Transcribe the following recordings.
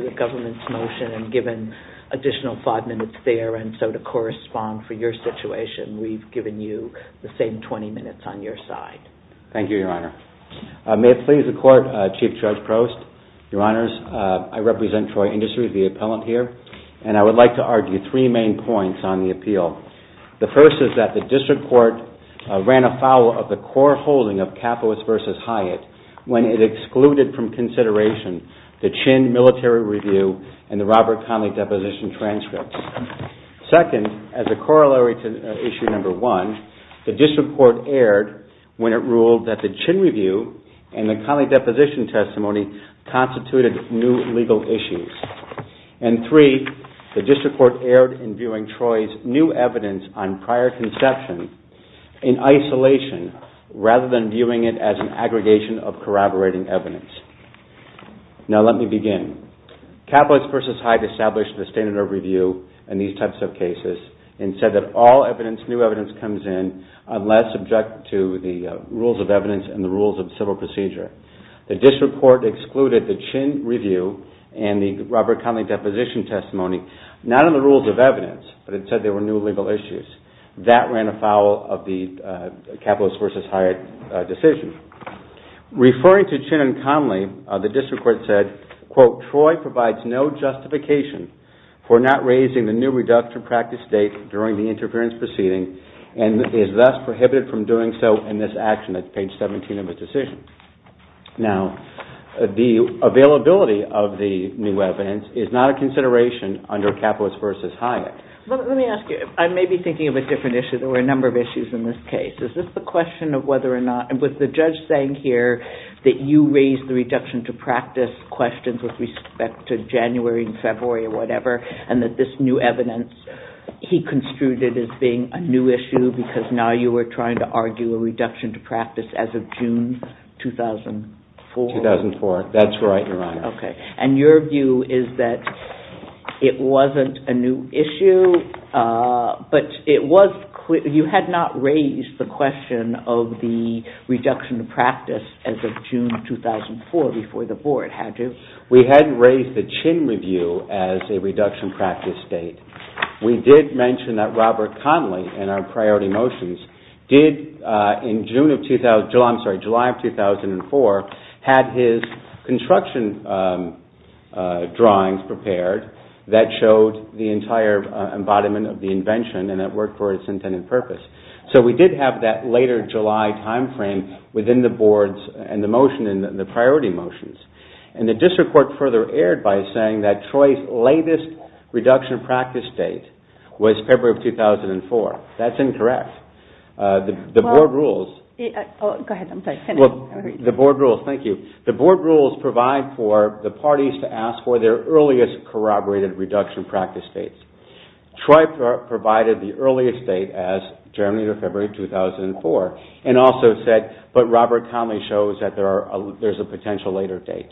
The government's motion and given additional five minutes there and so to correspond for your situation, we've given you the same 20 minutes on your side. Thank you, Your Honor. May it please the Court, Chief Judge Prost. Your Honors, I represent Troy Industry, the appellant here, and I would like to argue three main points on the appeal. The first is that the District Court ran afoul of the core holding of Cathoist v. Hyatt when it excluded from consideration the Chinn Military Review and the Robert Conley Deposition Transcripts. Second, as a corollary to Issue No. 1, the District Court erred when it ruled that the And three, the District Court erred in viewing Troy's new evidence on prior conception in isolation rather than viewing it as an aggregation of corroborating evidence. Now let me begin. Cathoist v. Hyatt established the standard of review in these types of cases and said that all evidence, new evidence, comes in unless subject to the rules of evidence and the rules of civil Robert Conley Deposition Testimony, not in the rules of evidence, but it said there were new legal issues. That ran afoul of the Cathoist v. Hyatt decision. Referring to Chinn and Conley, the District Court said, Quote, Troy provides no justification for not raising the new reduction practice date during the interference proceeding and is thus prohibited from doing so in this action. That's page 17 of the decision. Now, the availability of the new evidence is not a consideration under Cathoist v. Hyatt. Let me ask you, I may be thinking of a different issue. There were a number of issues in this case. Is this the question of whether or not, and with the judge saying here that you raised the reduction to practice questions with respect to January and February or whatever, and that this new evidence he was trying to argue a reduction to practice as of June 2004? 2004. That's right, Your Honor. Okay. And your view is that it wasn't a new issue, but it was, you had not raised the question of the reduction to practice as of June 2004 before the board had to. We hadn't raised the Chinn review as a reduction practice date. We did mention that Robert Conley in our priority motions did in July of 2004 had his construction drawings prepared that showed the entire embodiment of the invention and it worked for its intended purpose. So we did have that later July time frame within the boards and the motion in the priority motions. And the district court further erred by saying that Troy's latest reduction practice date was February of 2004. That's incorrect. The board rules provide for the parties to ask for their earliest corroborated reduction practice dates. Troy provided the earliest date as January to February of 2004 and also said, but Robert Conley shows that there's a potential later date.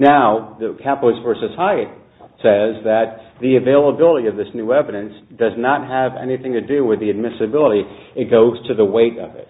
Now, the Capos v. Hyatt says that the availability of this new evidence does not have anything to do with the admissibility, it goes to the weight of it.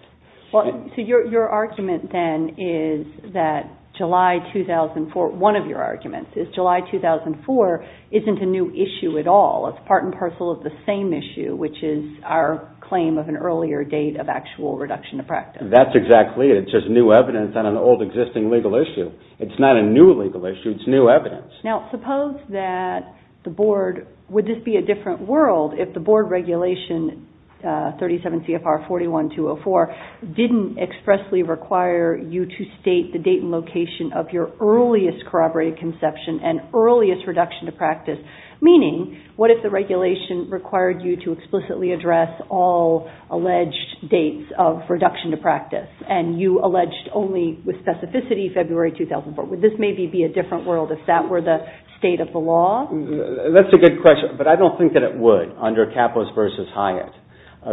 Well, so your argument then is that July 2004, one of your arguments is July 2004 isn't a new issue at all. It's part and parcel of the same issue, which is our claim of an earlier date of actual reduction to practice. That's exactly it. It's just new evidence on an old existing legal issue. It's not a new legal issue, it's new evidence. Now, suppose that the board, would this be a different world if the board regulation 37 CFR 41-204 didn't expressly require you to state the date and location of your earliest corroborated conception and earliest reduction to practice, meaning what if the regulation required you to explicitly address all alleged dates of reduction to practice and you alleged only with specificity February 2004, would this maybe be a different world if that were the state of the law? That's a good question, but I don't think that it would under Capos v. Hyatt,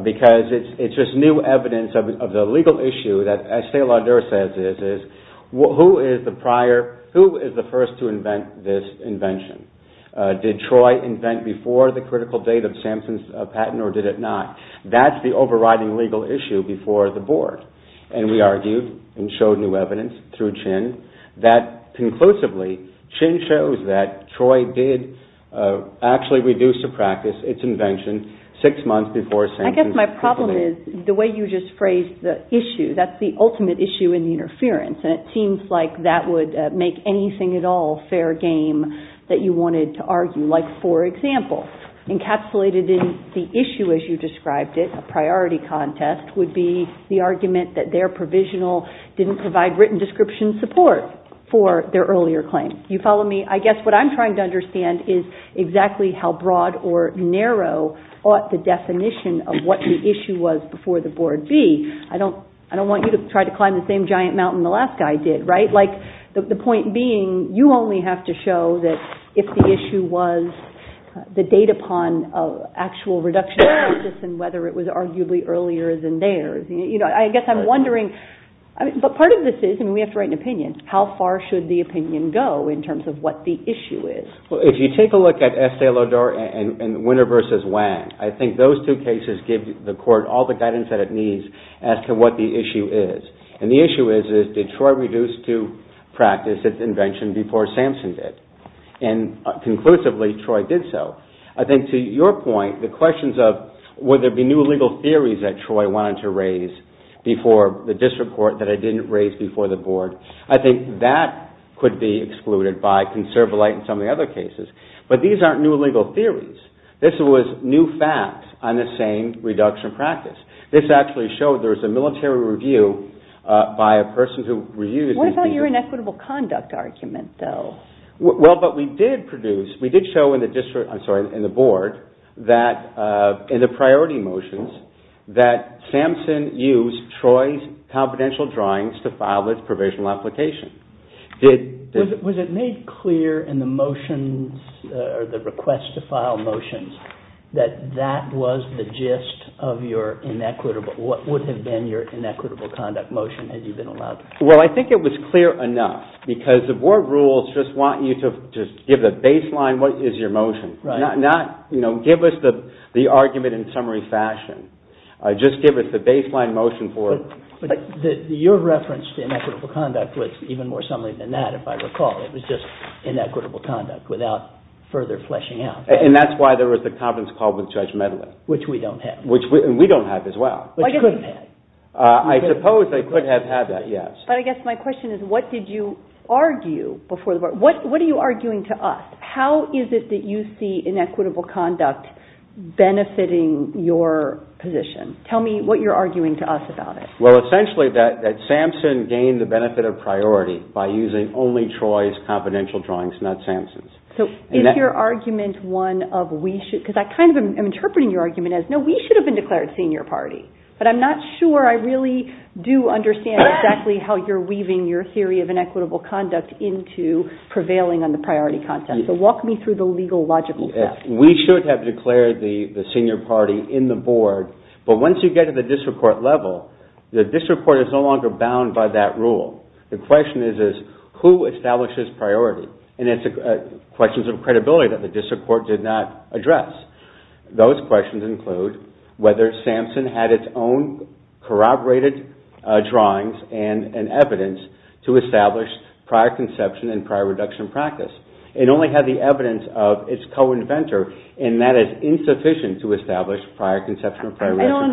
because it's just new evidence of the legal issue that as Stelar says is, who is the first to invent this invention? Did Troy invent before the critical date of Samson's patent or did it not? That's the overriding legal issue before the board, and we argued and showed new evidence through Chin that conclusively, Chin shows that Troy did actually reduce to practice its invention six months before Samson's patent. I guess my problem is the way you just phrased the issue. That's the ultimate issue in the interference, and it seems like that would make anything at all fair game that you wanted to argue. Like for example, encapsulated in the issue as you described it, a priority contest would be the argument that their provisional didn't provide written description support for their earlier claim. You follow me? I guess what I'm trying to understand is exactly how broad or narrow ought the definition of what the issue was before the board be. I don't want you to try to climb the same giant mountain the last guy did, right? The point being, you only have to show that if the issue was the date upon actual reduction in practice and whether it was arguably earlier than theirs. I guess I'm wondering, but part of this is, and we have to write an opinion, how far should the opinion go in terms of what the issue is? If you take a look at Estelador and Winner v. Wang, I think those two cases give the court all the guidance that it needs as to what the issue is. And the issue is, did Troy reduce to practice its invention before Samson did? And conclusively, Troy did so. I think to your point, the questions of would there be new legal theories that Troy wanted to raise before the district court that it didn't raise before the board, I think that could be excluded by conservative light in some of the other cases. But these aren't new legal theories. This was new facts on the same reduction practice. This actually showed there was a military review by a person who reused these pieces. What about your inequitable conduct argument, though? Well, but we did produce, we did show in the district, I'm sorry, in the board, that in the priority motions, that Samson used Troy's confidential drawings to file its provisional application. Was it made clear in the motions, or the request to file motions, that that was the gist of your inequitable, what would have been your inequitable conduct motion had you been allowed? Well, I think it was clear enough, because the board rules just want you to give the baseline what is your motion. Not, you know, give us the argument in summary fashion. Just give us the baseline motion for it. But your reference to inequitable conduct was even more something than that, if I recall. It was just inequitable conduct without further fleshing out. And that's why there was the conference call with Judge Medley. Which we don't have. Which we don't have as well. Which you could have had. I suppose I could have had that, yes. But I guess my question is, what did you argue before the board? What are you arguing to us? How is it that you see inequitable conduct benefiting your position? Tell me what you're arguing to us about it. Well, essentially that Samson gained the benefit of priority by using only Troy's confidential drawings, not Samson's. So is your argument one of we should – because I kind of am interpreting your argument as, no, we should have been declared senior party. But I'm not sure I really do understand exactly how you're weaving your theory of inequitable conduct into prevailing on the priority content. So walk me through the legal, logical steps. We should have declared the senior party in the board. But once you get to the district court level, the district court is no longer bound by that rule. The question is, who establishes priority? And it's a question of credibility that the district court did not address. Those questions include whether Samson had its own corroborated drawings and evidence to establish prior conception and prior reduction practice. It only had the evidence of its co-inventor, and that is insufficient to establish prior conception and prior reduction practice. I don't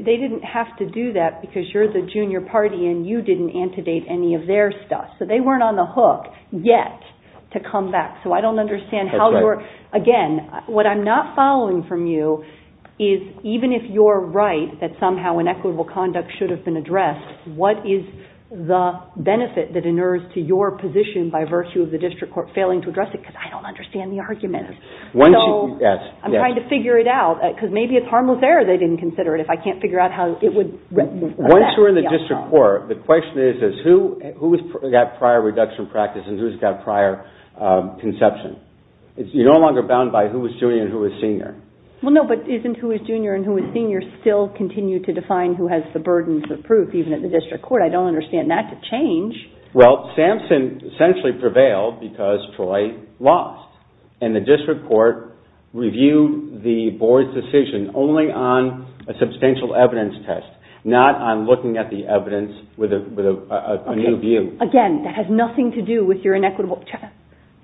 understand. They didn't have to do that because you're the junior party and you didn't antedate any of their stuff. So they weren't on the hook yet to come back. So I don't understand how you're – again, what I'm not following from you is, even if you're right that somehow inequitable conduct should have been addressed, what is the benefit that inures to your position by virtue of the district court failing to address it? Because I don't understand the argument. So I'm trying to figure it out because maybe it's harmless error they didn't consider it. If I can't figure out how it would – Once you're in the district court, the question is, who's got prior reduction practice and who's got prior conception? You're no longer bound by who was junior and who was senior. Well, no, but isn't who is junior and who is senior still continue to define who has the burdens of proof, even at the district court? I don't understand that to change. Well, Sampson essentially prevailed because Troy lost. And the district court reviewed the board's decision only on a substantial evidence test, not on looking at the evidence with a new view. Again, that has nothing to do with your inequitable –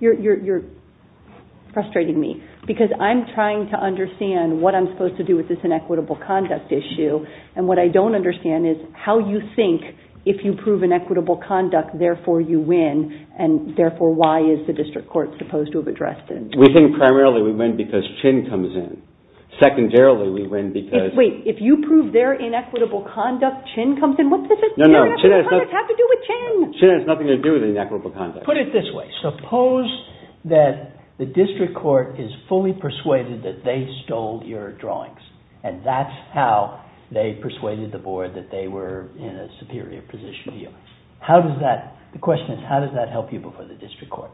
you're frustrating me. Because I'm trying to understand what I'm supposed to do with this inequitable conduct issue. And what I don't understand is how you think if you prove inequitable conduct, therefore you win, and therefore why is the district court supposed to have addressed it? We think primarily we win because Chin comes in. Secondarily, we win because – Wait, if you prove their inequitable conduct, Chin comes in? What does this have to do with Chin? Chin has nothing to do with inequitable conduct. Put it this way. Suppose that the district court is fully persuaded that they stole your drawings and that's how they persuaded the board that they were in a superior position to you. How does that – the question is how does that help you before the district court?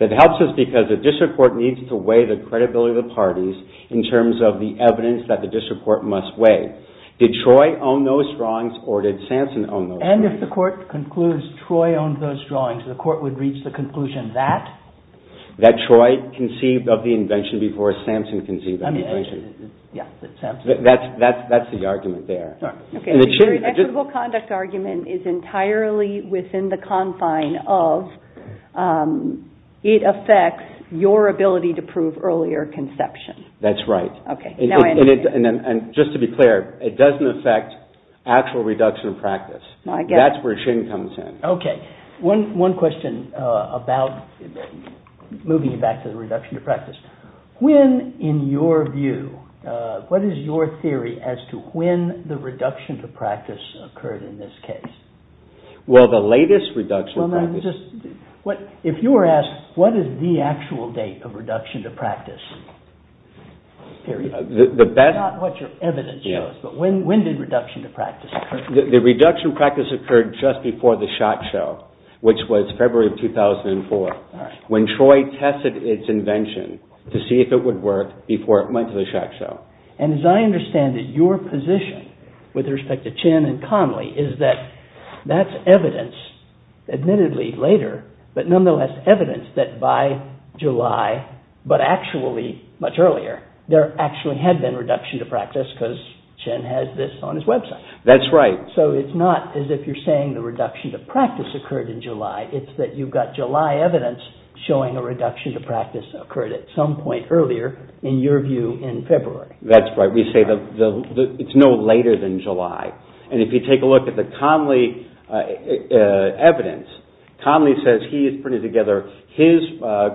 It helps us because the district court needs to weigh the credibility of the parties in terms of the evidence that the district court must weigh. Did Troy own those drawings or did Sampson own those drawings? And if the court concludes Troy owned those drawings, the court would reach the conclusion that? That's the argument there. Your inequitable conduct argument is entirely within the confine of it affects your ability to prove earlier conception. That's right. Just to be clear, it doesn't affect actual reduction of practice. That's where Chin comes in. Okay. One question about moving back to the reduction of practice. When, in your view, what is your theory as to when the reduction of practice occurred in this case? Well, the latest reduction of practice. If you were asked what is the actual date of reduction of practice, period, not what your evidence shows, but when did reduction of practice occur? The reduction of practice occurred just before the SHOT show, which was February of 2004. When Troy tested its invention to see if it would work before it went to the SHOT show. And as I understand it, your position with respect to Chin and Conley is that that's evidence, admittedly later, but nonetheless evidence that by July, but actually much earlier, there actually had been reduction of practice because Chin has this on his website. That's right. So it's not as if you're saying the reduction of practice occurred in July. It's that you've got July evidence showing a reduction of practice occurred at some point earlier, in your view, in February. That's right. We say it's no later than July. And if you take a look at the Conley evidence, Conley says he has put together his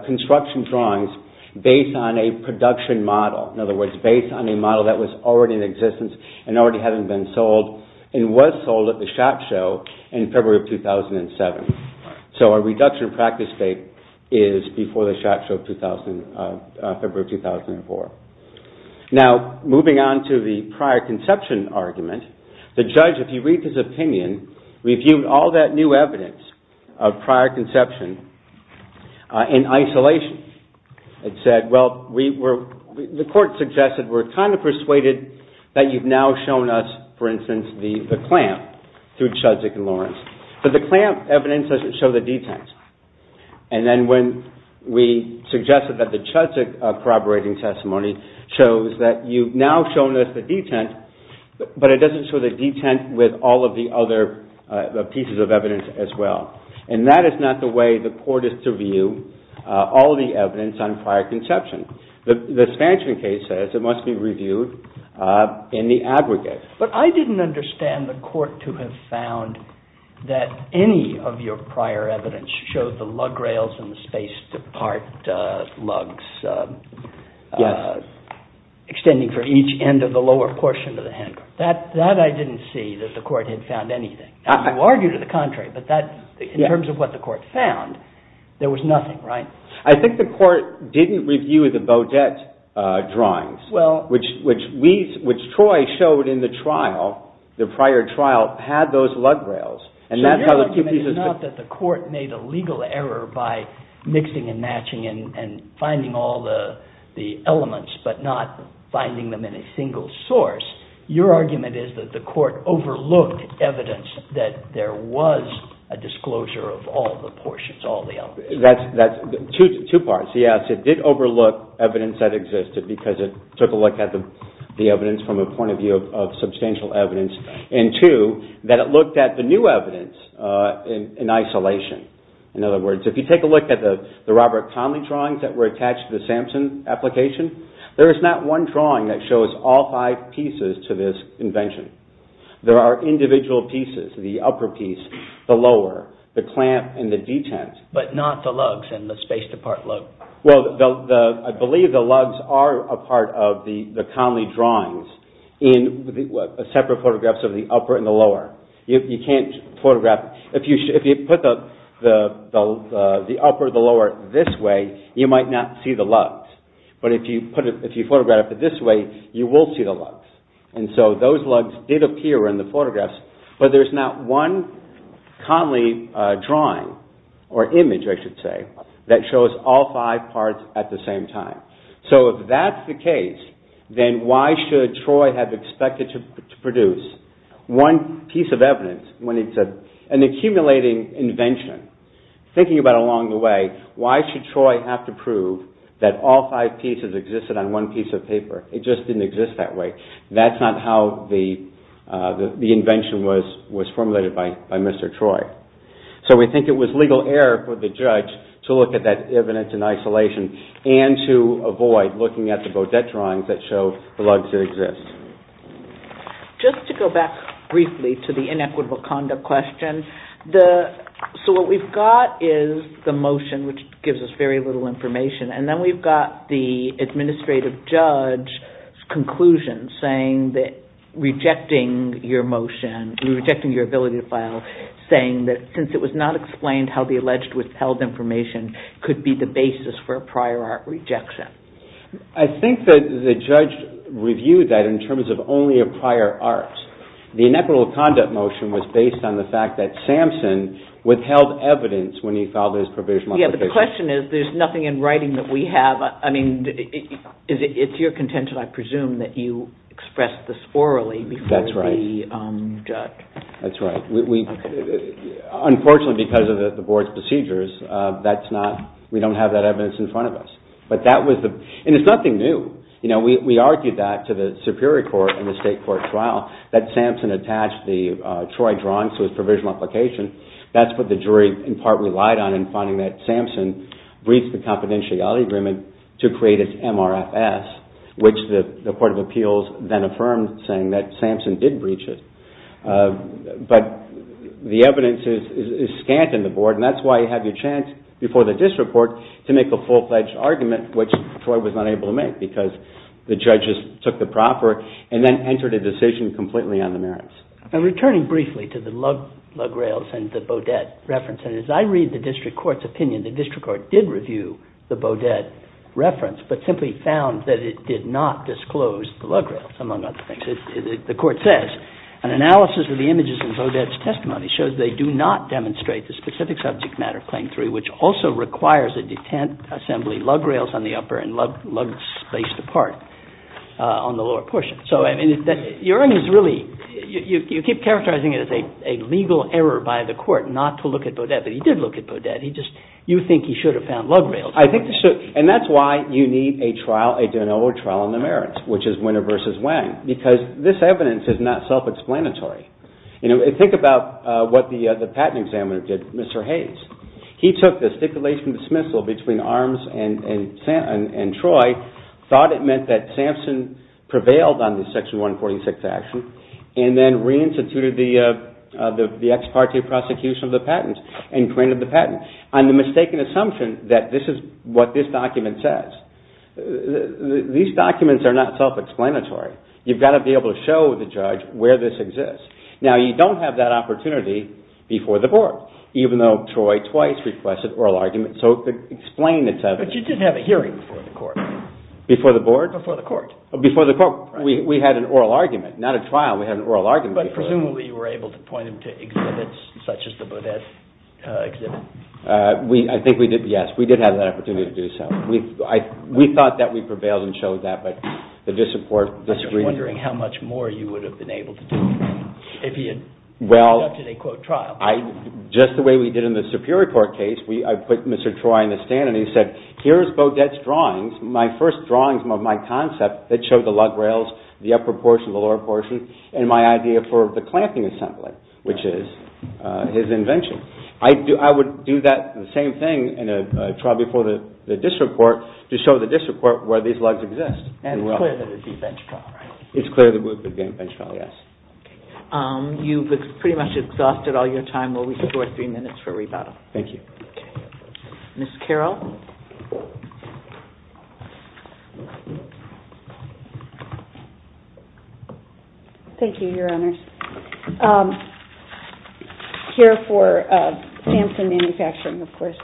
construction drawings based on a production model, in other words, based on a model that was already in existence and already had been sold and was sold at the SHOT show in February of 2007. So a reduction of practice date is before the SHOT show in February of 2004. Now, moving on to the prior conception argument, the judge, if you read his opinion, reviewed all that new evidence of prior conception in isolation. It said, well, the court suggested we're kind of persuaded that you've now shown us, for instance, the clamp through Chudzik and Lawrence. But the clamp evidence doesn't show the detent. And then when we suggested that the Chudzik corroborating testimony shows that you've now shown us the detent, but it doesn't show the detent with all of the other pieces of evidence as well. And that is not the way the court is to view all of the evidence on prior conception. The expansion case says it must be reviewed in the aggregate. But I didn't understand the court to have found that any of your prior evidence showed the lug rails and the spaced apart lugs extending for each end of the lower portion of the hand. That I didn't see that the court had found anything. You argue to the contrary. But in terms of what the court found, there was nothing, right? I think the court didn't review the Beaudet drawings, which Troy showed in the trial, the prior trial, had those lug rails. So your argument is not that the court made a legal error by mixing and matching and finding all the elements, but not finding them in a single source. Your argument is that the court overlooked evidence that there was a disclosure of all the portions, all the elements. That's two parts. Yes, it did overlook evidence that existed because it took a look at the evidence from a point of view of substantial evidence. And two, that it looked at the new evidence in isolation. In other words, if you take a look at the Robert Conley drawings that were attached to the Sampson application, there is not one drawing that shows all five pieces to this invention. There are individual pieces, the upper piece, the lower, the clamp, and the detent. But not the lugs and the spaced apart lug. Well, I believe the lugs are a part of the Conley drawings in separate photographs of the upper and the lower. You can't photograph, if you put the upper and the lower this way, you might not see the lugs. But if you photograph it this way, you will see the lugs. And so those lugs did appear in the photographs, but there's not one Conley drawing, or image I should say, that shows all five parts at the same time. So if that's the case, then why should Troy have expected to produce one piece of evidence when it's an accumulating invention? Thinking about it along the way, why should Troy have to prove that all five pieces existed on one piece of paper? It just didn't exist that way. That's not how the invention was formulated by Mr. Troy. So we think it was legal error for the judge to look at that evidence in isolation and to avoid looking at the Beaudet drawings that show the lugs that exist. Just to go back briefly to the inequitable conduct question. So what we've got is the motion, which gives us very little information, and then we've got the administrative judge's conclusion, rejecting your motion, rejecting your ability to file, saying that since it was not explained how the alleged withheld information could be the basis for a prior art rejection. I think that the judge reviewed that in terms of only a prior art. The inequitable conduct motion was based on the fact that Samson withheld evidence when he filed his provisional application. Yes, but the question is, there's nothing in writing that we have. I mean, it's your contention, I presume, that you expressed this orally before the judge. That's right. Unfortunately, because of the board's procedures, we don't have that evidence in front of us. And it's nothing new. We argued that to the Superior Court in the state court trial, that Samson attached the Troy drawings to his provisional application. That's what the jury, in part, relied on in finding that Samson breached the confidentiality agreement to create his MRFS, which the Court of Appeals then affirmed, saying that Samson did breach it. But the evidence is scant in the board, and that's why you have your chance before the district court to make a full-fledged argument, which Troy was not able to make because the judges took the proper and then entered a decision completely on the merits. Returning briefly to the lug rails and the Beaudet reference, and as I read the district court's opinion, the district court did review the Beaudet reference but simply found that it did not disclose the lug rails, among other things. The court says, an analysis of the images in Beaudet's testimony shows they do not demonstrate the specific subject matter of Claim 3, which also requires a detent assembly lug rails on the upper and lugs spaced apart on the lower portion. So, I mean, you keep characterizing it as a legal error by the court not to look at Beaudet, but he did look at Beaudet. You think he should have found lug rails. And that's why you need a trial, a de novo trial on the merits, which is Winner v. Wang, because this evidence is not self-explanatory. Think about what the patent examiner did, Mr. Hayes. He took the stipulation of dismissal between Arms and Troy, thought it meant that Samson prevailed on the Section 146 action, and then reinstituted the ex parte prosecution of the patent and granted the patent. I'm the mistaken assumption that this is what this document says. These documents are not self-explanatory. You've got to be able to show the judge where this exists. Now, you don't have that opportunity before the board, even though Troy twice requested oral argument. So explain it to us. But you did have a hearing before the court. Before the board? Before the court. Before the court. We had an oral argument. Not a trial. We had an oral argument. But presumably you were able to point him to exhibits such as the Beaudet exhibit. I think we did, yes. We did have that opportunity to do so. We thought that we prevailed and showed that, but the disappointment… I'm just wondering how much more you would have been able to do if he had ended up in a, quote, trial. Just the way we did in the Superior Court case, I put Mr. Troy in the stand and he said, here's Beaudet's drawings, my first drawings of my concept that showed the lug rails, the upper portion, the lower portion, and my idea for the clamping assembly, which is his invention. I would do that same thing in a trial before the district court to show the district court where these lugs exist. And it's clear that it would be a bench trial, right? It's clear that it would be a bench trial, yes. Okay. You've pretty much exhausted all your time. We'll restore three minutes for rebuttal. Thank you. Okay. Ms. Carroll? Thank you, Your Honors. Here for Sampson Manufacturing, of course.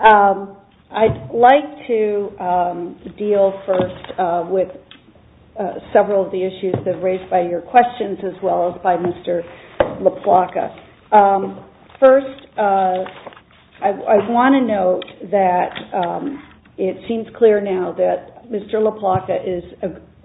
I'd like to deal first with several of the issues that were raised by your questions as well as by Mr. LaPlaca. First, I want to note that it seems clear now that Mr. LaPlaca is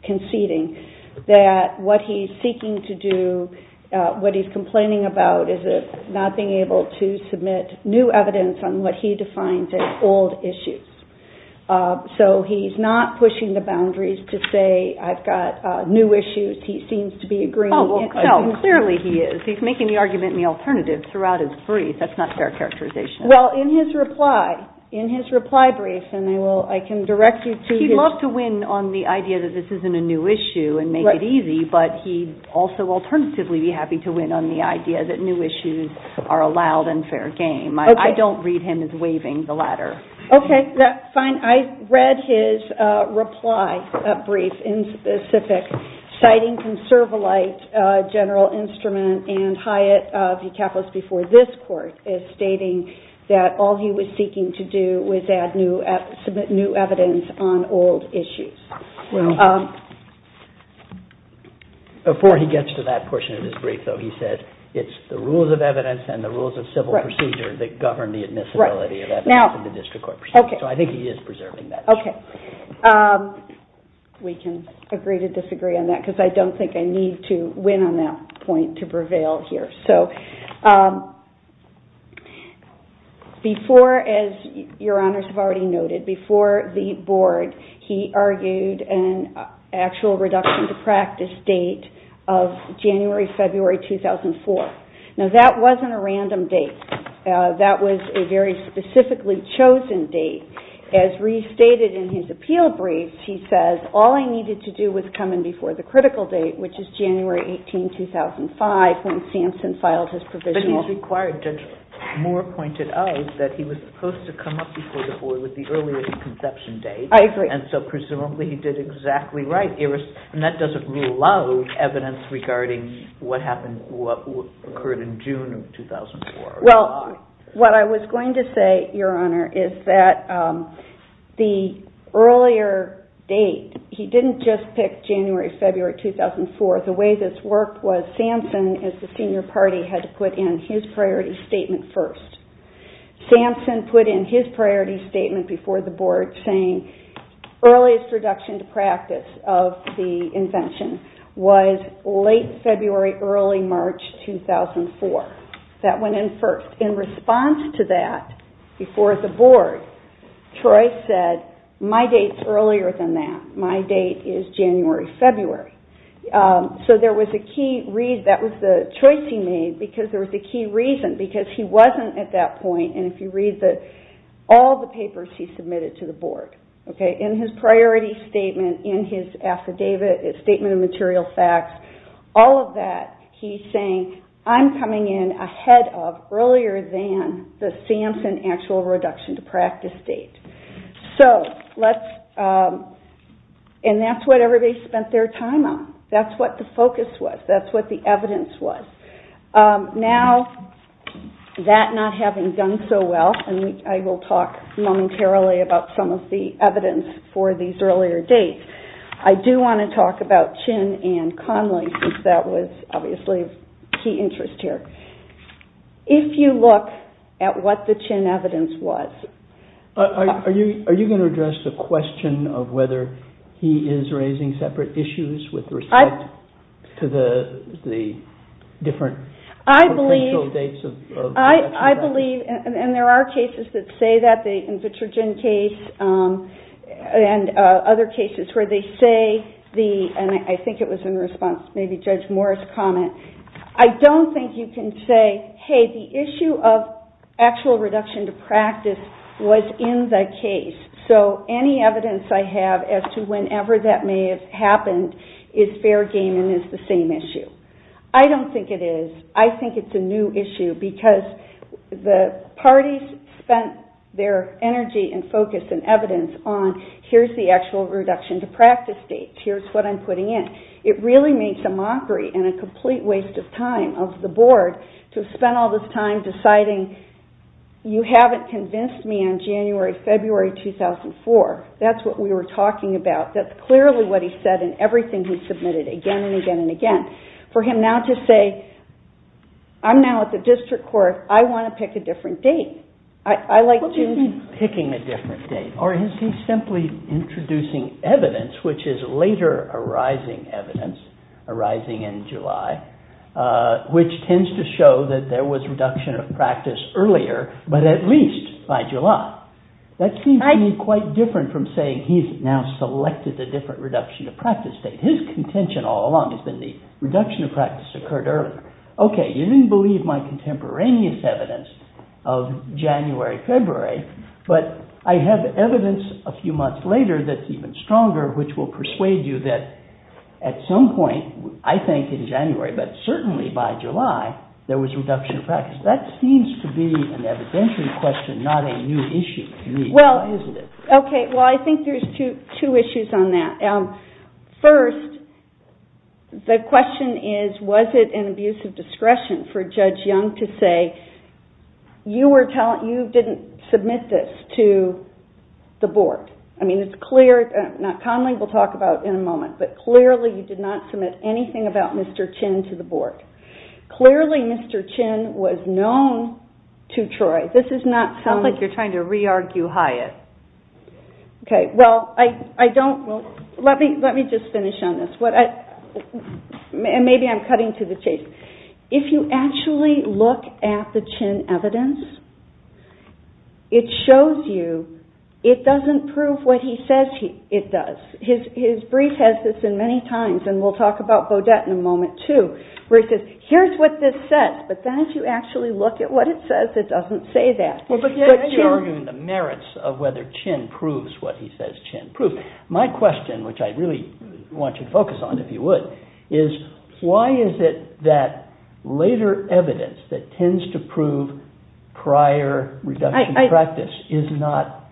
conceding that what he's seeking to do, what he's complaining about is not being able to submit new evidence on what he defines as old issues. So he's not pushing the boundaries to say I've got new issues. He seems to be agreeing. Oh, clearly he is. He's making the argument in the alternative throughout his brief. That's not fair characterization. Well, in his reply, in his reply brief, and I can direct you to his- He'd love to win on the idea that this isn't a new issue and make it easy, but he'd also alternatively be happy to win on the idea that new issues are a loud and fair game. I don't read him as waving the ladder. Okay, that's fine. And I read his reply brief in specific, citing from Servalight, General Instrument, and Hyatt, the capitalist before this court, as stating that all he was seeking to do was add new, submit new evidence on old issues. Before he gets to that portion of his brief, though, he said it's the rules of evidence and the rules of civil procedure that govern the admissibility of evidence in the district court procedure. Okay. So I think he is preserving that. Okay. We can agree to disagree on that because I don't think I need to win on that point to prevail here. So before, as your honors have already noted, before the board, he argued an actual reduction to practice date of January, February 2004. Now, that wasn't a random date. That was a very specifically chosen date. As restated in his appeal brief, he says, all I needed to do was come in before the critical date, which is January 18, 2005, when Samson filed his provisional. But he's required, Judge Moore pointed out, that he was supposed to come up before the board with the earliest conception date. I agree. And so presumably he did exactly right. And that doesn't rule out evidence regarding what happened, what occurred in June of 2004. Well, what I was going to say, your honor, is that the earlier date, he didn't just pick January, February 2004. The way this worked was Samson, as the senior party, had to put in his priority statement first. Samson put in his priority statement before the board saying, the earliest reduction to practice of the invention was late February, early March 2004. That went in first. In response to that, before the board, Troy said, my date's earlier than that. My date is January, February. So that was the choice he made because there was a key reason, because he wasn't at that point, and if you read all the papers he submitted to the board, in his priority statement, in his affidavit, his statement of material facts, all of that he's saying, I'm coming in ahead of, earlier than the Samson actual reduction to practice date. And that's what everybody spent their time on. That's what the focus was. That's what the evidence was. Now, that not having done so well, and I will talk momentarily about some of the evidence for these earlier dates, I do want to talk about Chin and Conley, since that was obviously of key interest here. If you look at what the Chin evidence was... Are you going to address the question of whether he is raising separate issues with respect to the different potential dates of reduction to practice? I believe, and there are cases that say that, the Invitrogen case and other cases where they say, and I think it was in response to maybe Judge Moore's comment, I don't think you can say, hey, the issue of actual reduction to practice was in the case. So any evidence I have as to whenever that may have happened is fair game and is the same issue. I don't think it is. I think it's a new issue, because the parties spent their energy and focus and evidence on, here's the actual reduction to practice date, here's what I'm putting in. It really makes a mockery and a complete waste of time of the board to spend all this time deciding, you haven't convinced me on January, February 2004. That's what we were talking about. That's clearly what he said in everything he submitted, again and again and again. For him now to say, I'm now at the district court, I want to pick a different date. What do you mean, picking a different date? Or is he simply introducing evidence, which is later arising evidence, arising in July, which tends to show that there was reduction of practice earlier, but at least by July. That seems to me quite different from saying he's now selected a different reduction of practice date. His contention all along has been the reduction of practice occurred earlier. Okay, you didn't believe my contemporaneous evidence of January, February, but I have evidence a few months later that's even stronger, which will persuade you that at some point, I think in January, but certainly by July, there was reduction of practice. That seems to be an evidentiary question, not a new issue to me, isn't it? Well, I think there's two issues on that. First, the question is, was it an abuse of discretion for Judge Young to say, you didn't submit this to the board. But clearly, you did not submit anything about Mr. Chin to the board. Clearly, Mr. Chin was known to Troy. This is not some... Sounds like you're trying to re-argue Hyatt. Okay, well, I don't... Let me just finish on this. Maybe I'm cutting to the chase. If you actually look at the Chin evidence, it shows you it doesn't prove what he says it does. His brief has this in many times, and we'll talk about Beaudet in a moment too, where he says, here's what this says, but then if you actually look at what it says, it doesn't say that. But you're arguing the merits of whether Chin proves what he says Chin proves. My question, which I really want you to focus on, if you would, is why is it that later evidence that tends to prove prior reduction of practice is not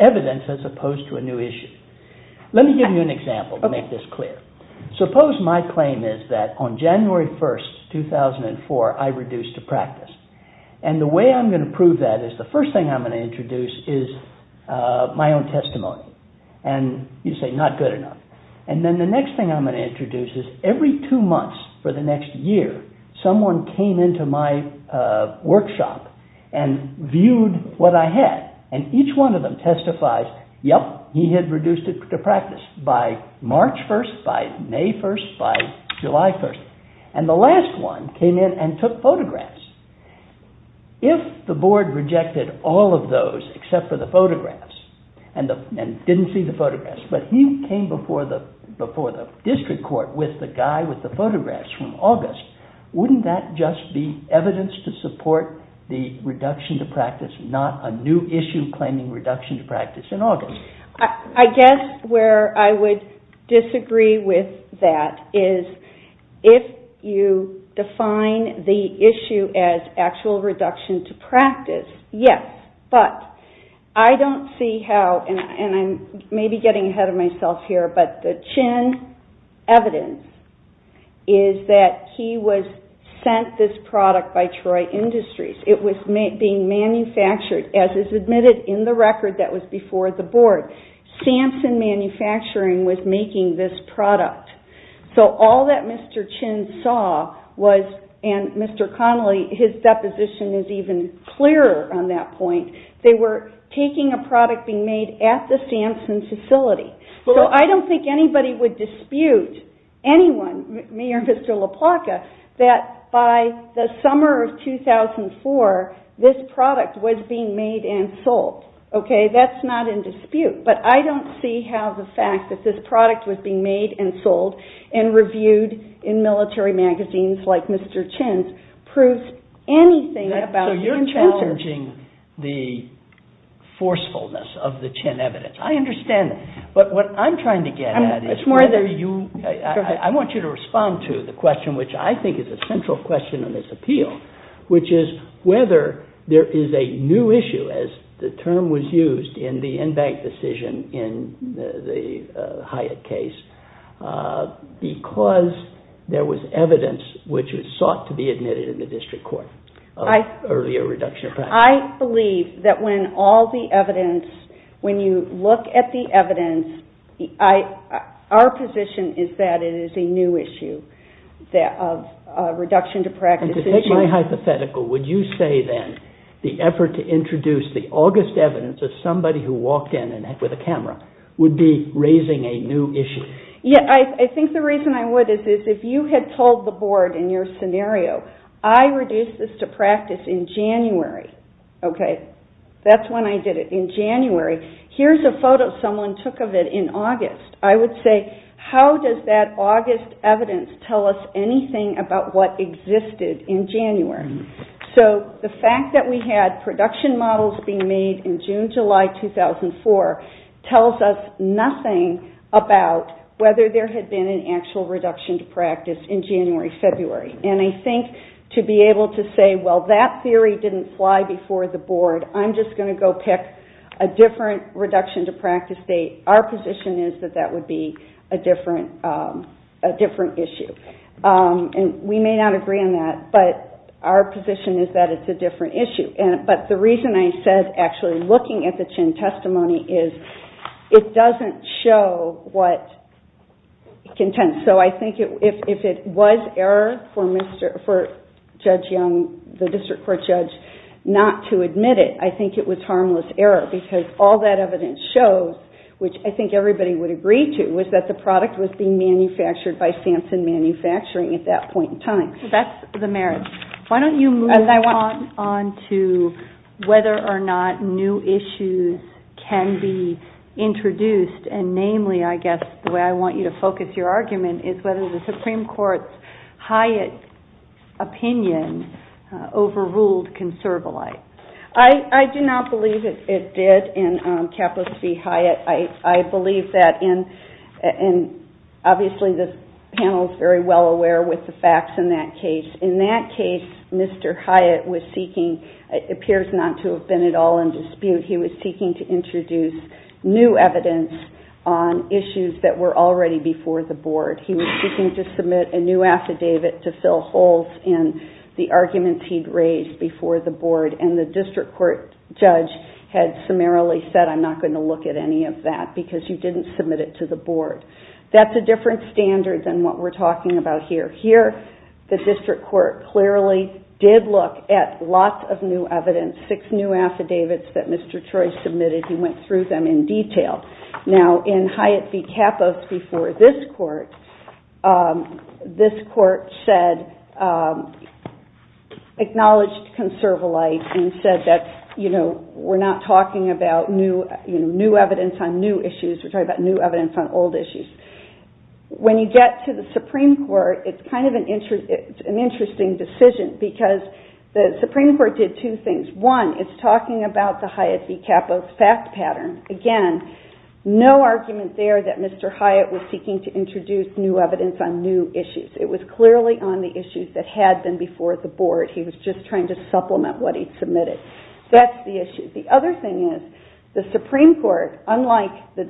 evidence as opposed to a new issue? Let me give you an example to make this clear. Suppose my claim is that on January 1st, 2004, I reduced to practice. And the way I'm going to prove that is, the first thing I'm going to introduce is my own testimony. And you say, not good enough. And then the next thing I'm going to introduce is, every two months for the next year, someone came into my workshop and viewed what I had. And each one of them testifies, yep, he had reduced to practice by March 1st, by May 1st, by July 1st. And the last one came in and took photographs. If the board rejected all of those except for the photographs and didn't see the photographs, but he came before the district court with the guy with the photographs from August, wouldn't that just be evidence to support the reduction to practice, not a new issue claiming reduction to practice in August? I guess where I would disagree with that is, if you define the issue as actual reduction to practice, yes. But I don't see how, and I may be getting ahead of myself here, but the Chin evidence is that he was sent this product by Troy Industries. It was being manufactured, as is admitted in the record that was before the board, Samson Manufacturing was making this product. So all that Mr. Chin saw was, and Mr. Connolly, his deposition is even clearer on that point, they were taking a product being made at the Samson facility. So I don't think anybody would dispute anyone, me or Mr. LaPlaca, that by the summer of 2004, this product was being made and sold. Okay, that's not in dispute. But I don't see how the fact that this product was being made and sold and reviewed in military magazines like Mr. Chin's proves anything about the contenders. So you're challenging the forcefulness of the Chin evidence. I understand that. But what I'm trying to get at is whether you, I want you to respond to the question which I think is a central question in this appeal, which is whether there is a new issue, as the term was used in the in-bank decision in the Hyatt case, because there was evidence which was sought to be admitted in the district court. I believe that when all the evidence, when you look at the evidence, our position is that it is a new issue of reduction to practice. And to take my hypothetical, would you say then the effort to introduce the August evidence of somebody who walked in with a camera would be raising a new issue? Yeah, I think the reason I would is if you had told the board in your scenario, I reduced this to practice in January, okay, that's when I did it, in January. Here's a photo someone took of it in August. I would say how does that August evidence tell us anything about what existed in January? So the fact that we had production models being made in June, July 2004, tells us nothing about whether there had been an actual reduction to practice in January, February. And I think to be able to say, well, that theory didn't fly before the board, I'm just going to go pick a different reduction to practice date, our position is that that would be a different issue. And we may not agree on that, but our position is that it's a different issue. But the reason I said actually looking at the Chinn testimony is it doesn't show what contends. So I think if it was error for Judge Young, the district court judge, not to admit it, I think it was harmless error because all that evidence shows, which I think everybody would agree to, was that the product was being manufactured by Sampson Manufacturing at that point in time. So that's the merit. Why don't you move on to whether or not new issues can be introduced, and namely, I guess the way I want you to focus your argument, is whether the Supreme Court's Hyatt opinion overruled Conservolite. I do not believe it did in Capitalist v. Hyatt. I believe that, and obviously this panel is very well aware with the facts in that case. In that case, Mr. Hyatt was seeking, it appears not to have been at all in dispute, he was seeking to introduce new evidence on issues that were already before the board. He was seeking to submit a new affidavit to fill holes in the arguments he'd raised before the board, and the district court judge had summarily said, I'm not going to look at any of that because you didn't submit it to the board. That's a different standard than what we're talking about here. Here, the district court clearly did look at lots of new evidence, six new affidavits that Mr. Troy submitted, he went through them in detail. Now, in Hyatt v. Kappos before this court, this court said, acknowledged Conservolite and said that we're not talking about new evidence on new issues, we're talking about new evidence on old issues. When you get to the Supreme Court, it's kind of an interesting decision, because the Supreme Court did two things. One, it's talking about the Hyatt v. Kappos fact pattern. Again, no argument there that Mr. Hyatt was seeking to introduce new evidence on new issues. It was clearly on the issues that had been before the board. He was just trying to supplement what he'd submitted. That's the issue. The other thing is, the Supreme Court, unlike the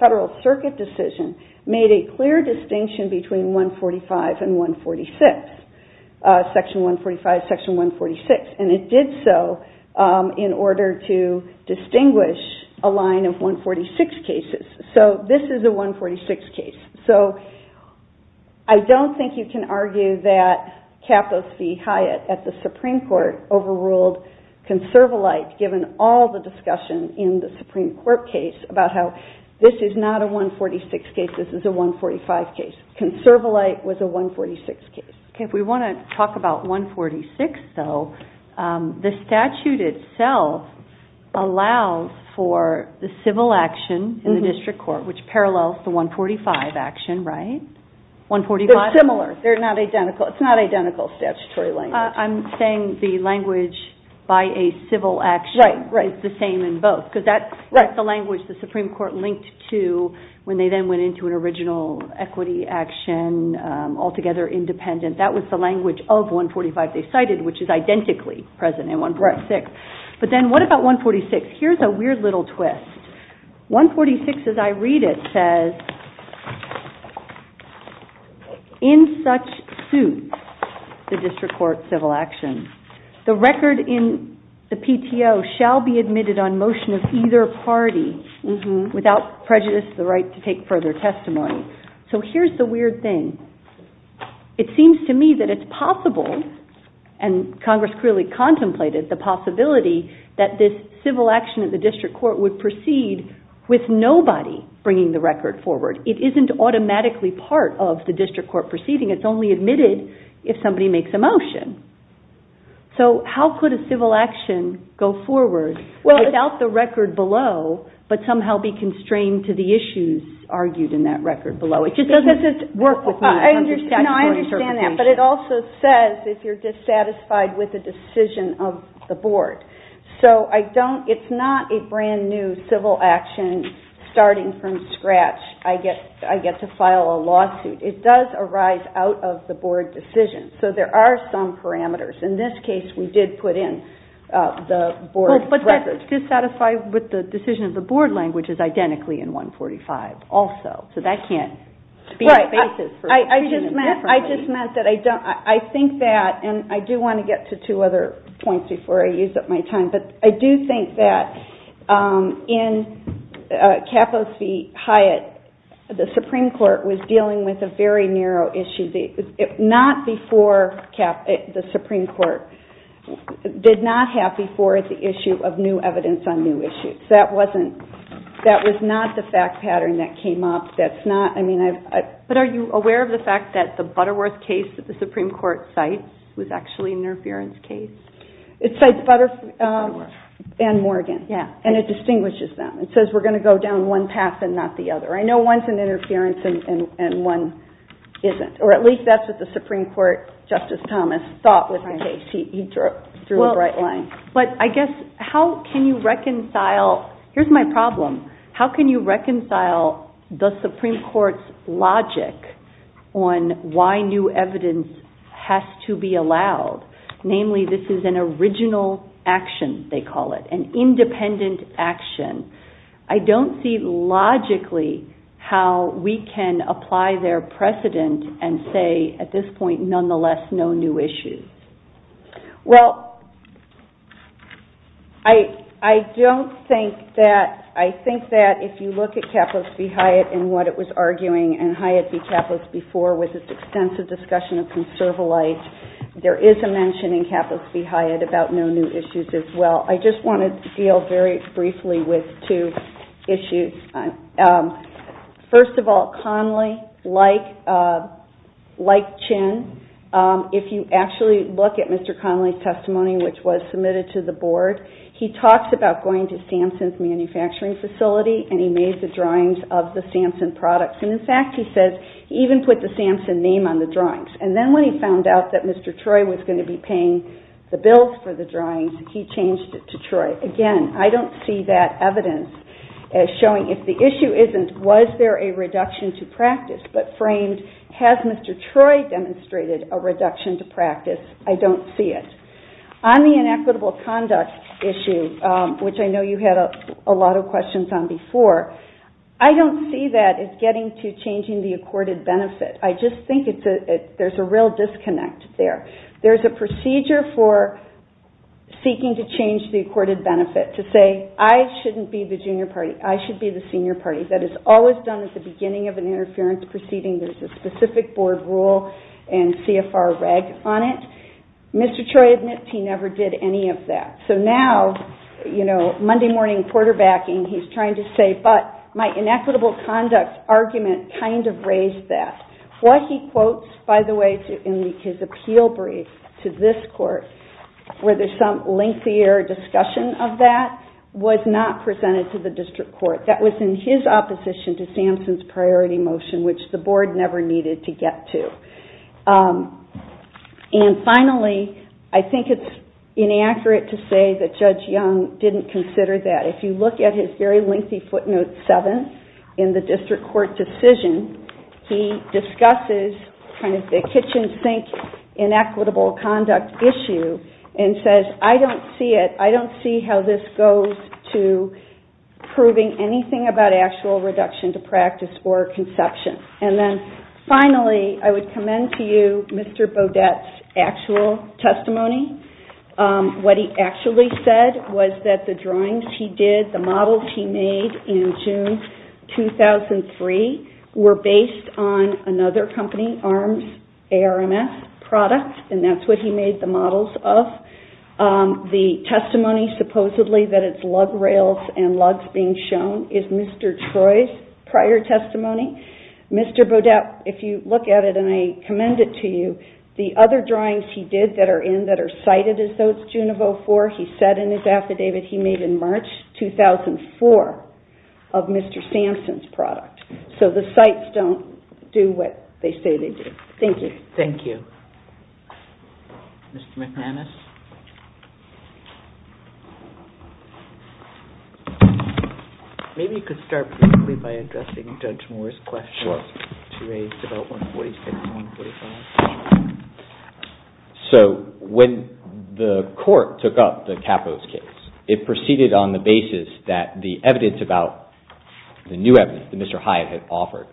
Federal Circuit decision, made a clear distinction between 145 and 146, Section 145, Section 146. It did so in order to distinguish a line of 146 cases. This is a 146 case. I don't think you can argue that Kappos v. Hyatt at the Supreme Court overruled Conservolite, given all the discussion in the Supreme Court case about how this is not a 146 case, this is a 145 case. Conservolite was a 146 case. If we want to talk about 146, though, the statute itself allows for the civil action in the district court, which parallels the 145 action, right? They're similar. It's not identical statutory language. I'm saying the language by a civil action is the same in both, because that's the language the Supreme Court linked to when they then went into an original equity action, altogether independent. That was the language of 145 they cited, which is identically present in 146. But then what about 146? Here's a weird little twist. 146, as I read it, says, in such suit the district court civil action, the record in the PTO shall be admitted on motion of either party, without prejudice to the right to take further testimony. So here's the weird thing. It seems to me that it's possible, and Congress clearly contemplated the possibility, that this civil action in the district court would proceed with nobody bringing the record forward. It isn't automatically part of the district court proceeding. It's only admitted if somebody makes a motion. So how could a civil action go forward without the record below, but somehow be constrained to the issues argued in that record below? It just doesn't work with me in terms of statutory certification. But it also says if you're dissatisfied with the decision of the board. So it's not a brand-new civil action starting from scratch. I get to file a lawsuit. It does arise out of the board decision. So there are some parameters. In this case, we did put in the board record. But dissatisfied with the decision of the board language is identically in 145 also. So that can't be a basis for treating it differently. I just meant that I think that, and I do want to get to two other points before I use up my time, but I do think that in Cappos v. Hyatt, the Supreme Court was dealing with a very narrow issue, not before the Supreme Court did not have before the issue of new evidence on new issues. That was not the fact pattern that came up. But are you aware of the fact that the Butterworth case that the Supreme Court cites was actually an interference case? It cites Butterworth and Morgan, and it distinguishes them. It says we're going to go down one path and not the other. I know one's an interference and one isn't, or at least that's what the Supreme Court, Justice Thomas, thought was the case. He drew a bright line. But I guess how can you reconcile, here's my problem, how can you reconcile the Supreme Court's logic on why new evidence has to be allowed? Namely, this is an original action, they call it, an independent action. I don't see logically how we can apply their precedent and say at this point, nonetheless, no new issues. Well, I don't think that, I think that if you look at Capitalist v. Hyatt and what it was arguing, and Hyatt v. Capitalist before was this extensive discussion of conserval life, there is a mention in Capitalist v. Hyatt about no new issues as well. I just want to deal very briefly with two issues. First of all, Conley, like Chin, if you actually look at Mr. Conley's testimony, which was submitted to the board, he talks about going to Samson's manufacturing facility and he made the drawings of the Samson products. In fact, he says he even put the Samson name on the drawings. Then when he found out that Mr. Troy was going to be paying the bills for the drawings, he changed it to Troy. Again, I don't see that evidence as showing if the issue isn't was there a reduction to practice, but framed has Mr. Troy demonstrated a reduction to practice? I don't see it. On the inequitable conduct issue, which I know you had a lot of questions on before, I don't see that as getting to changing the accorded benefit. I just think there's a real disconnect there. There's a procedure for seeking to change the accorded benefit to say, I shouldn't be the junior party, I should be the senior party. That is always done at the beginning of an interference proceeding. There's a specific board rule and CFR reg on it. Mr. Troy admits he never did any of that. So now, Monday morning quarterbacking, he's trying to say, but my inequitable conduct argument kind of raised that. What he quotes, by the way, in his appeal brief to this court, where there's some lengthier discussion of that, was not presented to the district court. That was in his opposition to Samson's priority motion, which the board never needed to get to. And finally, I think it's inaccurate to say that Judge Young didn't consider that. If you look at his very lengthy footnote seven in the district court decision, he discusses the kitchen sink inequitable conduct issue and says, I don't see it, I don't see how this goes to proving anything about actual reduction to practice or conception. And then finally, I would commend to you Mr. Bodette's actual testimony. What he actually said was that the drawings he did, the models he made in June 2003 were based on another company, ARMS, ARMS products, and that's what he made the models of. The testimony, supposedly, that it's lug rails and lugs being shown is Mr. Troy's prior testimony. Mr. Bodette, if you look at it, and I commend it to you, the other drawings he did that are in, that are cited as though it's June of 2004, he said in his affidavit he made in March 2004 of Mr. Sampson's product. So the sites don't do what they say they do. Thank you. Thank you. Mr. McManus? Maybe you could start briefly by addressing Judge Moore's question. Sure. She raised about 146 and 145. So when the court took up the Capos case, it proceeded on the basis that the evidence about the new evidence that Mr. Hyatt had offered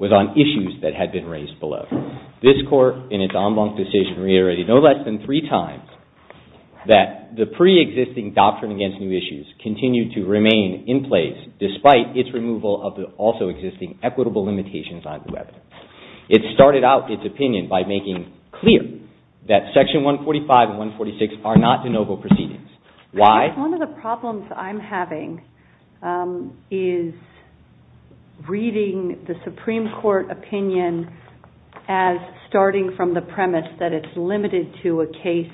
was on issues that had been raised below. This court, in its en banc decision, reiterated no less than three times that the pre-existing doctrine against new issues continued to remain in place despite its removal of the also existing equitable limitations on new evidence. It started out its opinion by making clear that Section 145 and 146 are not de novo proceedings. Why? One of the problems I'm having is reading the Supreme Court opinion as starting from the premise that it's limited to a case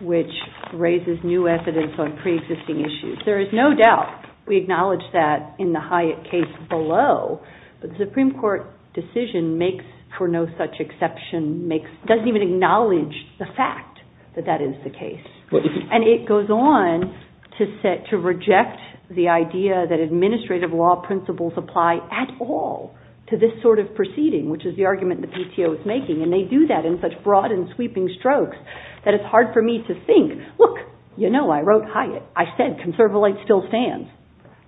which raises new evidence on pre-existing issues. There is no doubt we acknowledge that in the Hyatt case below, but the Supreme Court decision makes for no such exception, doesn't even acknowledge the fact that that is the case. And it goes on to reject the idea that administrative law principles apply at all to this sort of proceeding, which is the argument the PTO is making, and they do that in such broad and sweeping strokes that it's hard for me to think, look, you know, I wrote Hyatt. I said conservative still stands.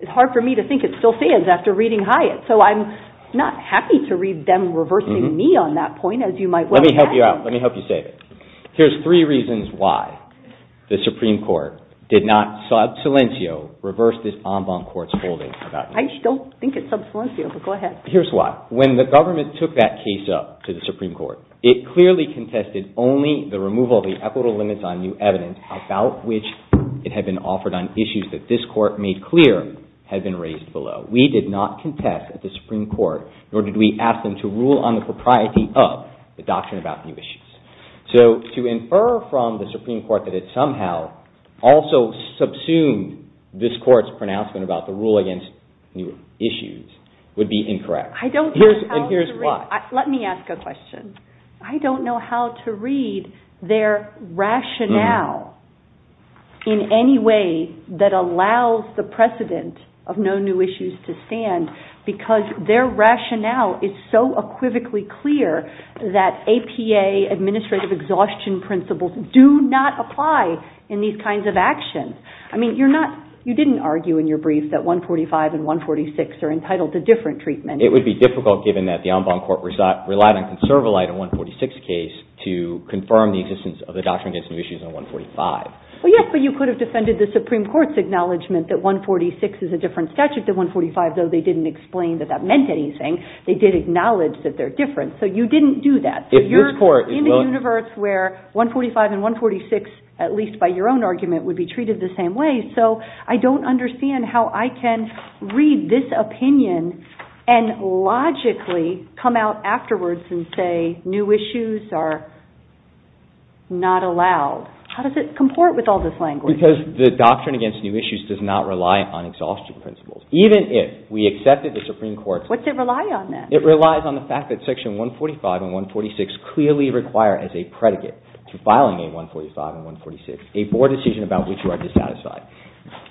It's hard for me to think it still stands after reading Hyatt, so I'm not happy to read them reversing me on that point, as you might well imagine. Let me help you out. Let me help you save it. Here's three reasons why the Supreme Court did not sub silencio, reverse this en banc court's holding. I don't think it's sub silencio, but go ahead. Here's why. When the government took that case up to the Supreme Court, it clearly contested only the removal of the equitable limits on new evidence about which it had been offered on issues that this court made clear had been raised below. We did not contest at the Supreme Court, nor did we ask them to rule on the propriety of the doctrine about new issues. So to infer from the Supreme Court that it somehow also subsumed this court's pronouncement about the rule against new issues would be incorrect. I don't know how to read. And here's why. Let me ask a question. I don't know how to read their rationale in any way that allows the precedent of no new issues to stand because their rationale is so equivocally clear that APA, administrative exhaustion principles, do not apply in these kinds of actions. I mean, you're not, you didn't argue in your brief that 145 and 146 are entitled to different treatment. It would be difficult given that the en banc court relied on Well, yes, but you could have defended the Supreme Court's acknowledgement that 146 is a different statute than 145, though they didn't explain that that meant anything. They did acknowledge that they're different. So you didn't do that. You're in a universe where 145 and 146, at least by your own argument, would be treated the same way. So I don't understand how I can read this opinion and logically come out afterwards and say new issues are not allowed. How does it comport with all this language? Because the doctrine against new issues does not rely on exhaustion principles. Even if we accepted the Supreme Court's What's it rely on then? It relies on the fact that section 145 and 146 clearly require as a predicate to filing a 145 and 146, a board decision about which you are dissatisfied.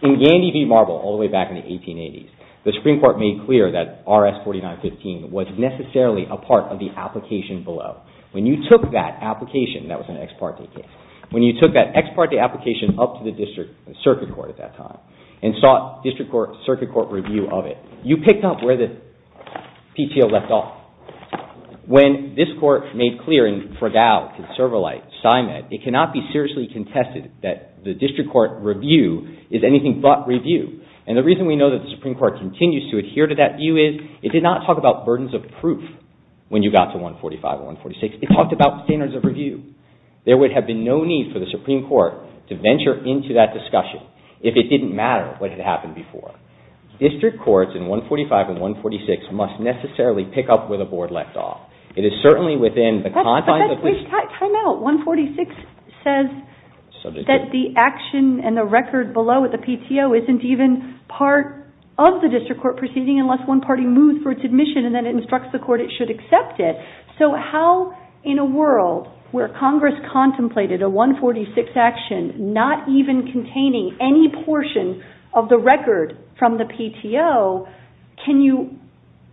In Gandy v. Marble, all the way back in the 1880s, the Supreme Court made clear that RS 4915 was necessarily a part of the application below. When you took that application, that was an ex parte case, when you took that ex parte application up to the district circuit court at that time and sought district court circuit court review of it, you picked up where the PTO left off. When this court made clear in Fragau, Conservalite, Simon, it cannot be seriously contested that the district court review is anything but review. And the reason we know that the Supreme Court continues to adhere to that view is it did not talk about burdens of proof when you got to 145 and 146. It talked about standards of review. There would have been no need for the Supreme Court to venture into that discussion if it didn't matter what had happened before. District courts in 145 and 146 must necessarily pick up where the board left off. It is certainly within the confines of the Time out. 146 says that the action and the record below at the PTO isn't even part of the district court proceeding unless one party moves for its admission and then instructs the court it should accept it. So how in a world where Congress contemplated a 146 action not even containing any portion of the record from the PTO, can you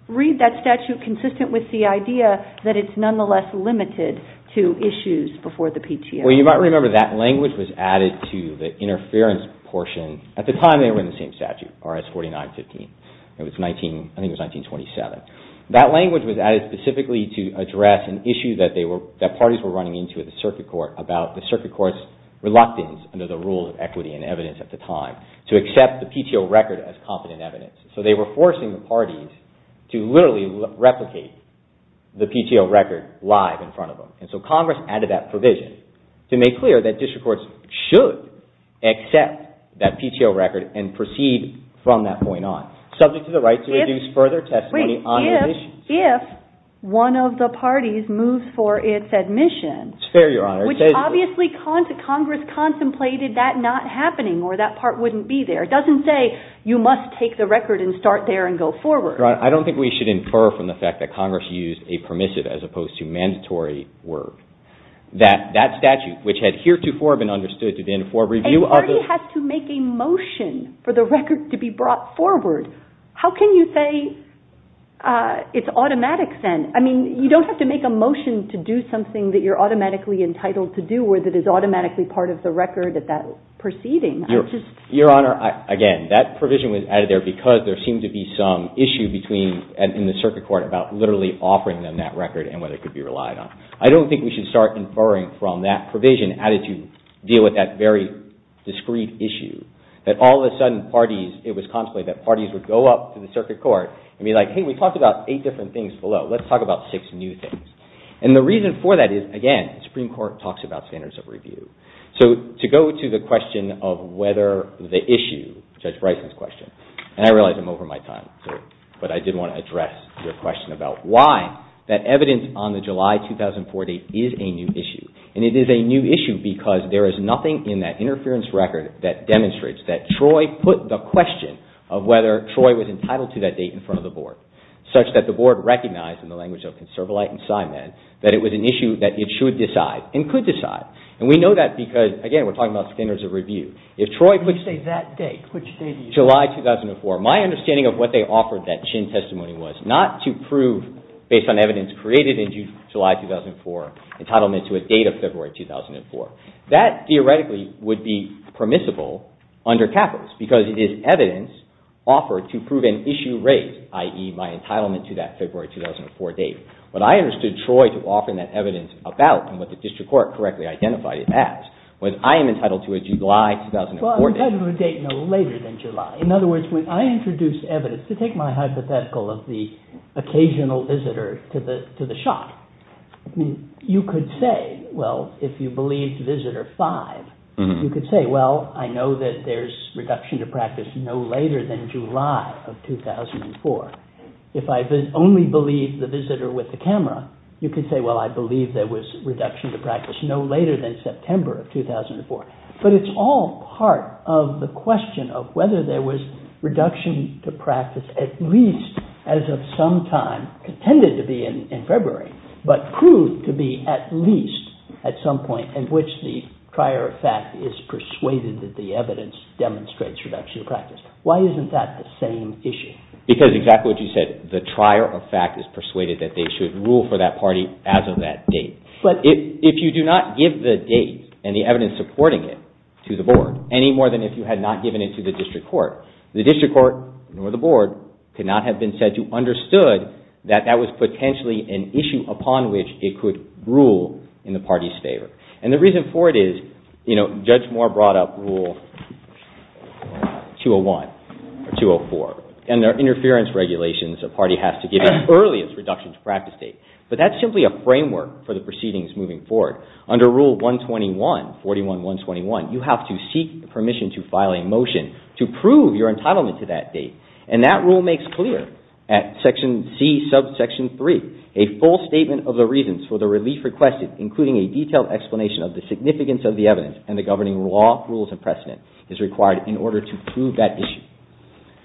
read that statute consistent with the idea that it's nonetheless limited to issues before the PTO? You might remember that language was added to the interference portion. At the time they were in the same statute, RS 4915. I think it was 1927. That language was added specifically to address an issue that parties were running into at the circuit court about the circuit court's reluctance under the rules of equity and evidence at the time to accept the PTO record as confident evidence. So they were forcing the parties to literally replicate the PTO record live in front of them. And so Congress added that provision to make clear that district courts should accept that PTO record and proceed from that point on, subject to the right to reduce further testimony Wait, if, if, one of the parties moves for its admission, It's fair, Your Honor. which obviously Congress contemplated that not happening or that part wouldn't be there. It doesn't say you must take the record and start there and go forward. I don't think we should infer from the fact that Congress used a permissive as opposed to mandatory word that that statute, which had heretofore been understood to be in for review of the A party has to make a motion for the record to be brought forward. How can you say it's automatic then? I mean, you don't have to make a motion to do something that you're automatically entitled to do or that is automatically part of the record at that proceeding. Your Honor, again, that provision was added there because there seemed to be some issue between, in the circuit court, about literally offering them that record and whether it could be relied on. I don't think we should start inferring from that provision how did you deal with that very discreet issue that all of a sudden parties, it was contemplated that parties would go up to the circuit court and be like, Hey, we talked about eight different things below. Let's talk about six new things. And the reason for that is, again, the Supreme Court talks about standards of review. So to go to the question of whether the issue, Judge Bryson's question, and I realize I'm over my time, but I did want to address your question about why that evidence on the July 2004 date is a new issue. And it is a new issue because there is nothing in that interference record that demonstrates that Troy put the question of whether Troy was entitled to that date in front of the Board such that the Board recognized, in the language of ConservaLight and Simon, that it was an issue that it should decide and could decide. And we know that because, again, we're talking about standards of review. If Troy put, say, that date, July 2004, my understanding of what they offered that Chinn testimony was not to prove, based on evidence created in July 2004, entitlement to a date of February 2004. That, theoretically, would be permissible under capitalist because it is evidence offered to prove an issue raised, i.e., my entitlement to that February 2004 date. But I understood Troy to offer that evidence about and what the district court correctly identified it as when I am entitled to a July 2004 date. Well, entitled to a date no later than July. In other words, when I introduced evidence, to take my hypothetical of the occasional visitor to the shop, you could say, well, if you believed visitor five, you could say, well, I know that there's reduction to practice no later than July of 2004. If I only believed the visitor with the camera, you could say, well, I believe there was reduction to practice no later than September of 2004. But it's all part of the question of whether there was reduction to practice at least as of some time, tended to be in February, but proved to be at least at some point in which the trier of fact is persuaded that the evidence demonstrates reduction to practice. Why isn't that the same issue? Because exactly what you said, the trier of fact is persuaded that they should rule for that party as of that date. If you do not give the date and the evidence supporting it to the board any more than if you had not given it to the district court, the district court nor the board could not have been said to have understood that that was potentially an issue upon which it could rule in the party's favor. And the reason for it is, you know, Judge Moore brought up Rule 201 or 204, and they're interference regulations a party has to give as early as reduction to practice date. But that's simply a framework for the proceedings moving forward. Under Rule 121, 41-121, you have to seek permission to file a motion to prove your entitlement to that date. And that rule makes clear at Section C, Subsection 3, a full statement of the reasons for the relief requested, including a detailed explanation of the significance of the evidence and the governing law, rules, and precedent is required in order to prove that issue.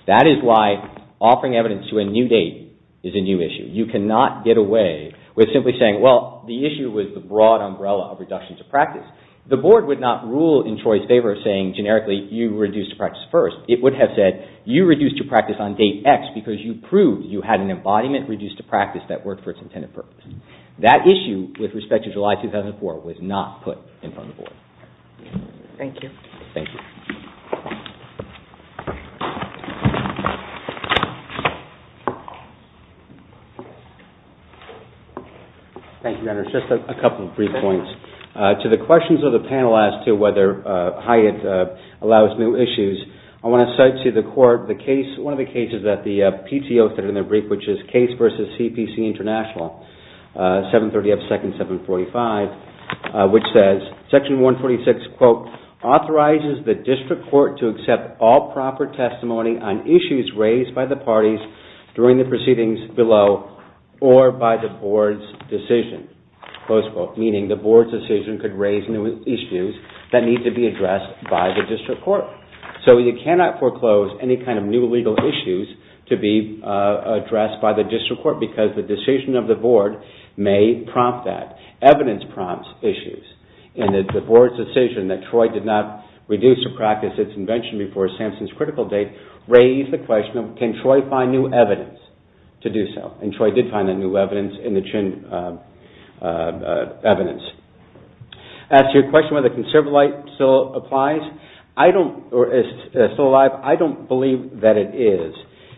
That is why offering evidence to a new date is a new issue. You cannot get away with simply saying, well, the issue was the broad umbrella of reduction to practice. The board would not rule in Troy's favor saying generically you reduced to practice first. It would have said you reduced to practice on date X because you proved you had an embodiment reduced to practice that worked for its intended purpose. That issue with respect to July 2004 was not put in front of the board. Thank you. Thank you. Thank you, Dennis. Just a couple brief points. To the questions of the panel as to whether Hyatt allows new issues, I want to cite to the court one of the cases that the PTO said in their brief which is Case v. CPC International 730 F. 2nd 745 which says section 146 quote authorizes the district court to accept all proper testimony on issues raised by the parties during the proceedings below or by the board's decisions. Close quote. Meaning the board's decision could raise new issues that need to be addressed by the district court. So you cannot foreclose any kind of new legal issues to be addressed by the district court because the decision of the board may prompt that. Evidence prompts issues. And the board's decision that Troy did not reduce to practice its invention before Samson's critical date raised the question can Troy find new evidence to do so? And Troy did find new evidence in the evidence. As to your question about whether conservolite still applies or is still alive I don't believe that it is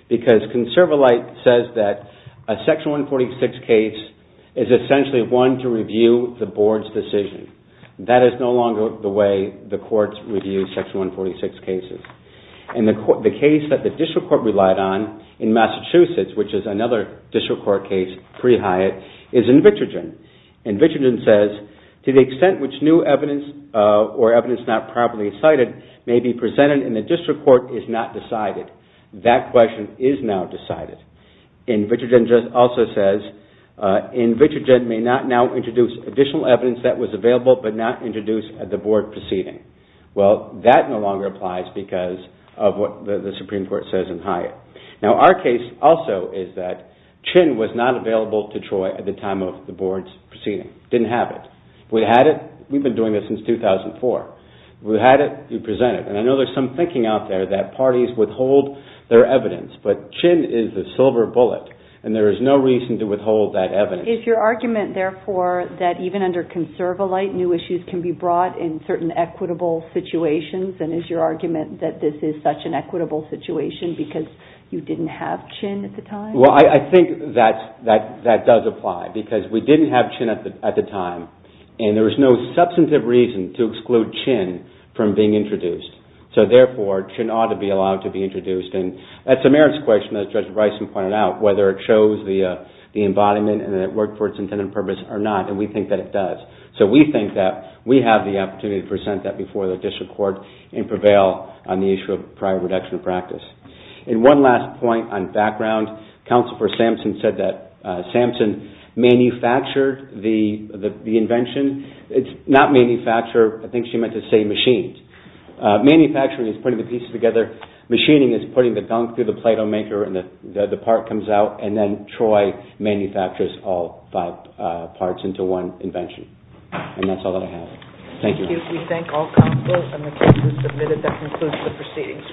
because conservolite says that a section 146 case is essentially one to review the board's decision. That is no longer the way the courts review section 146 cases. And the case that the district court relied on in Massachusetts which is another district court case pre-Hyatt is in Vitrogen. And Vitrogen says to the extent which new evidence or evidence not properly cited may be presented in the district court is not decided. That question is now decided. And Vitrogen also says in Vitrogen may not now introduce additional evidence that was available but not introduced at the board proceeding. Well, that no longer applies because of what the Supreme Court says in Hyatt. Now, our case also is that Chin was not available to Troy at the time of the board's proceeding. Didn't have it. We had it. We've been doing this since 2004. We had it. We presented it. And I know there's some thinking out there that parties withhold their evidence but Chin is the silver bullet and there is no reason to withhold that evidence. Is your argument that this is such an equitable situation because you didn't have Chin at the time? Well, I think that does apply because we didn't have Chin at the time and there was no substantive reason to exclude Chin from being introduced. So, therefore, Chin ought to be allowed to be included in the process. I think good argument and I think it's a good argument and I think it's a good argument and I think it's a good argument in the proceedings.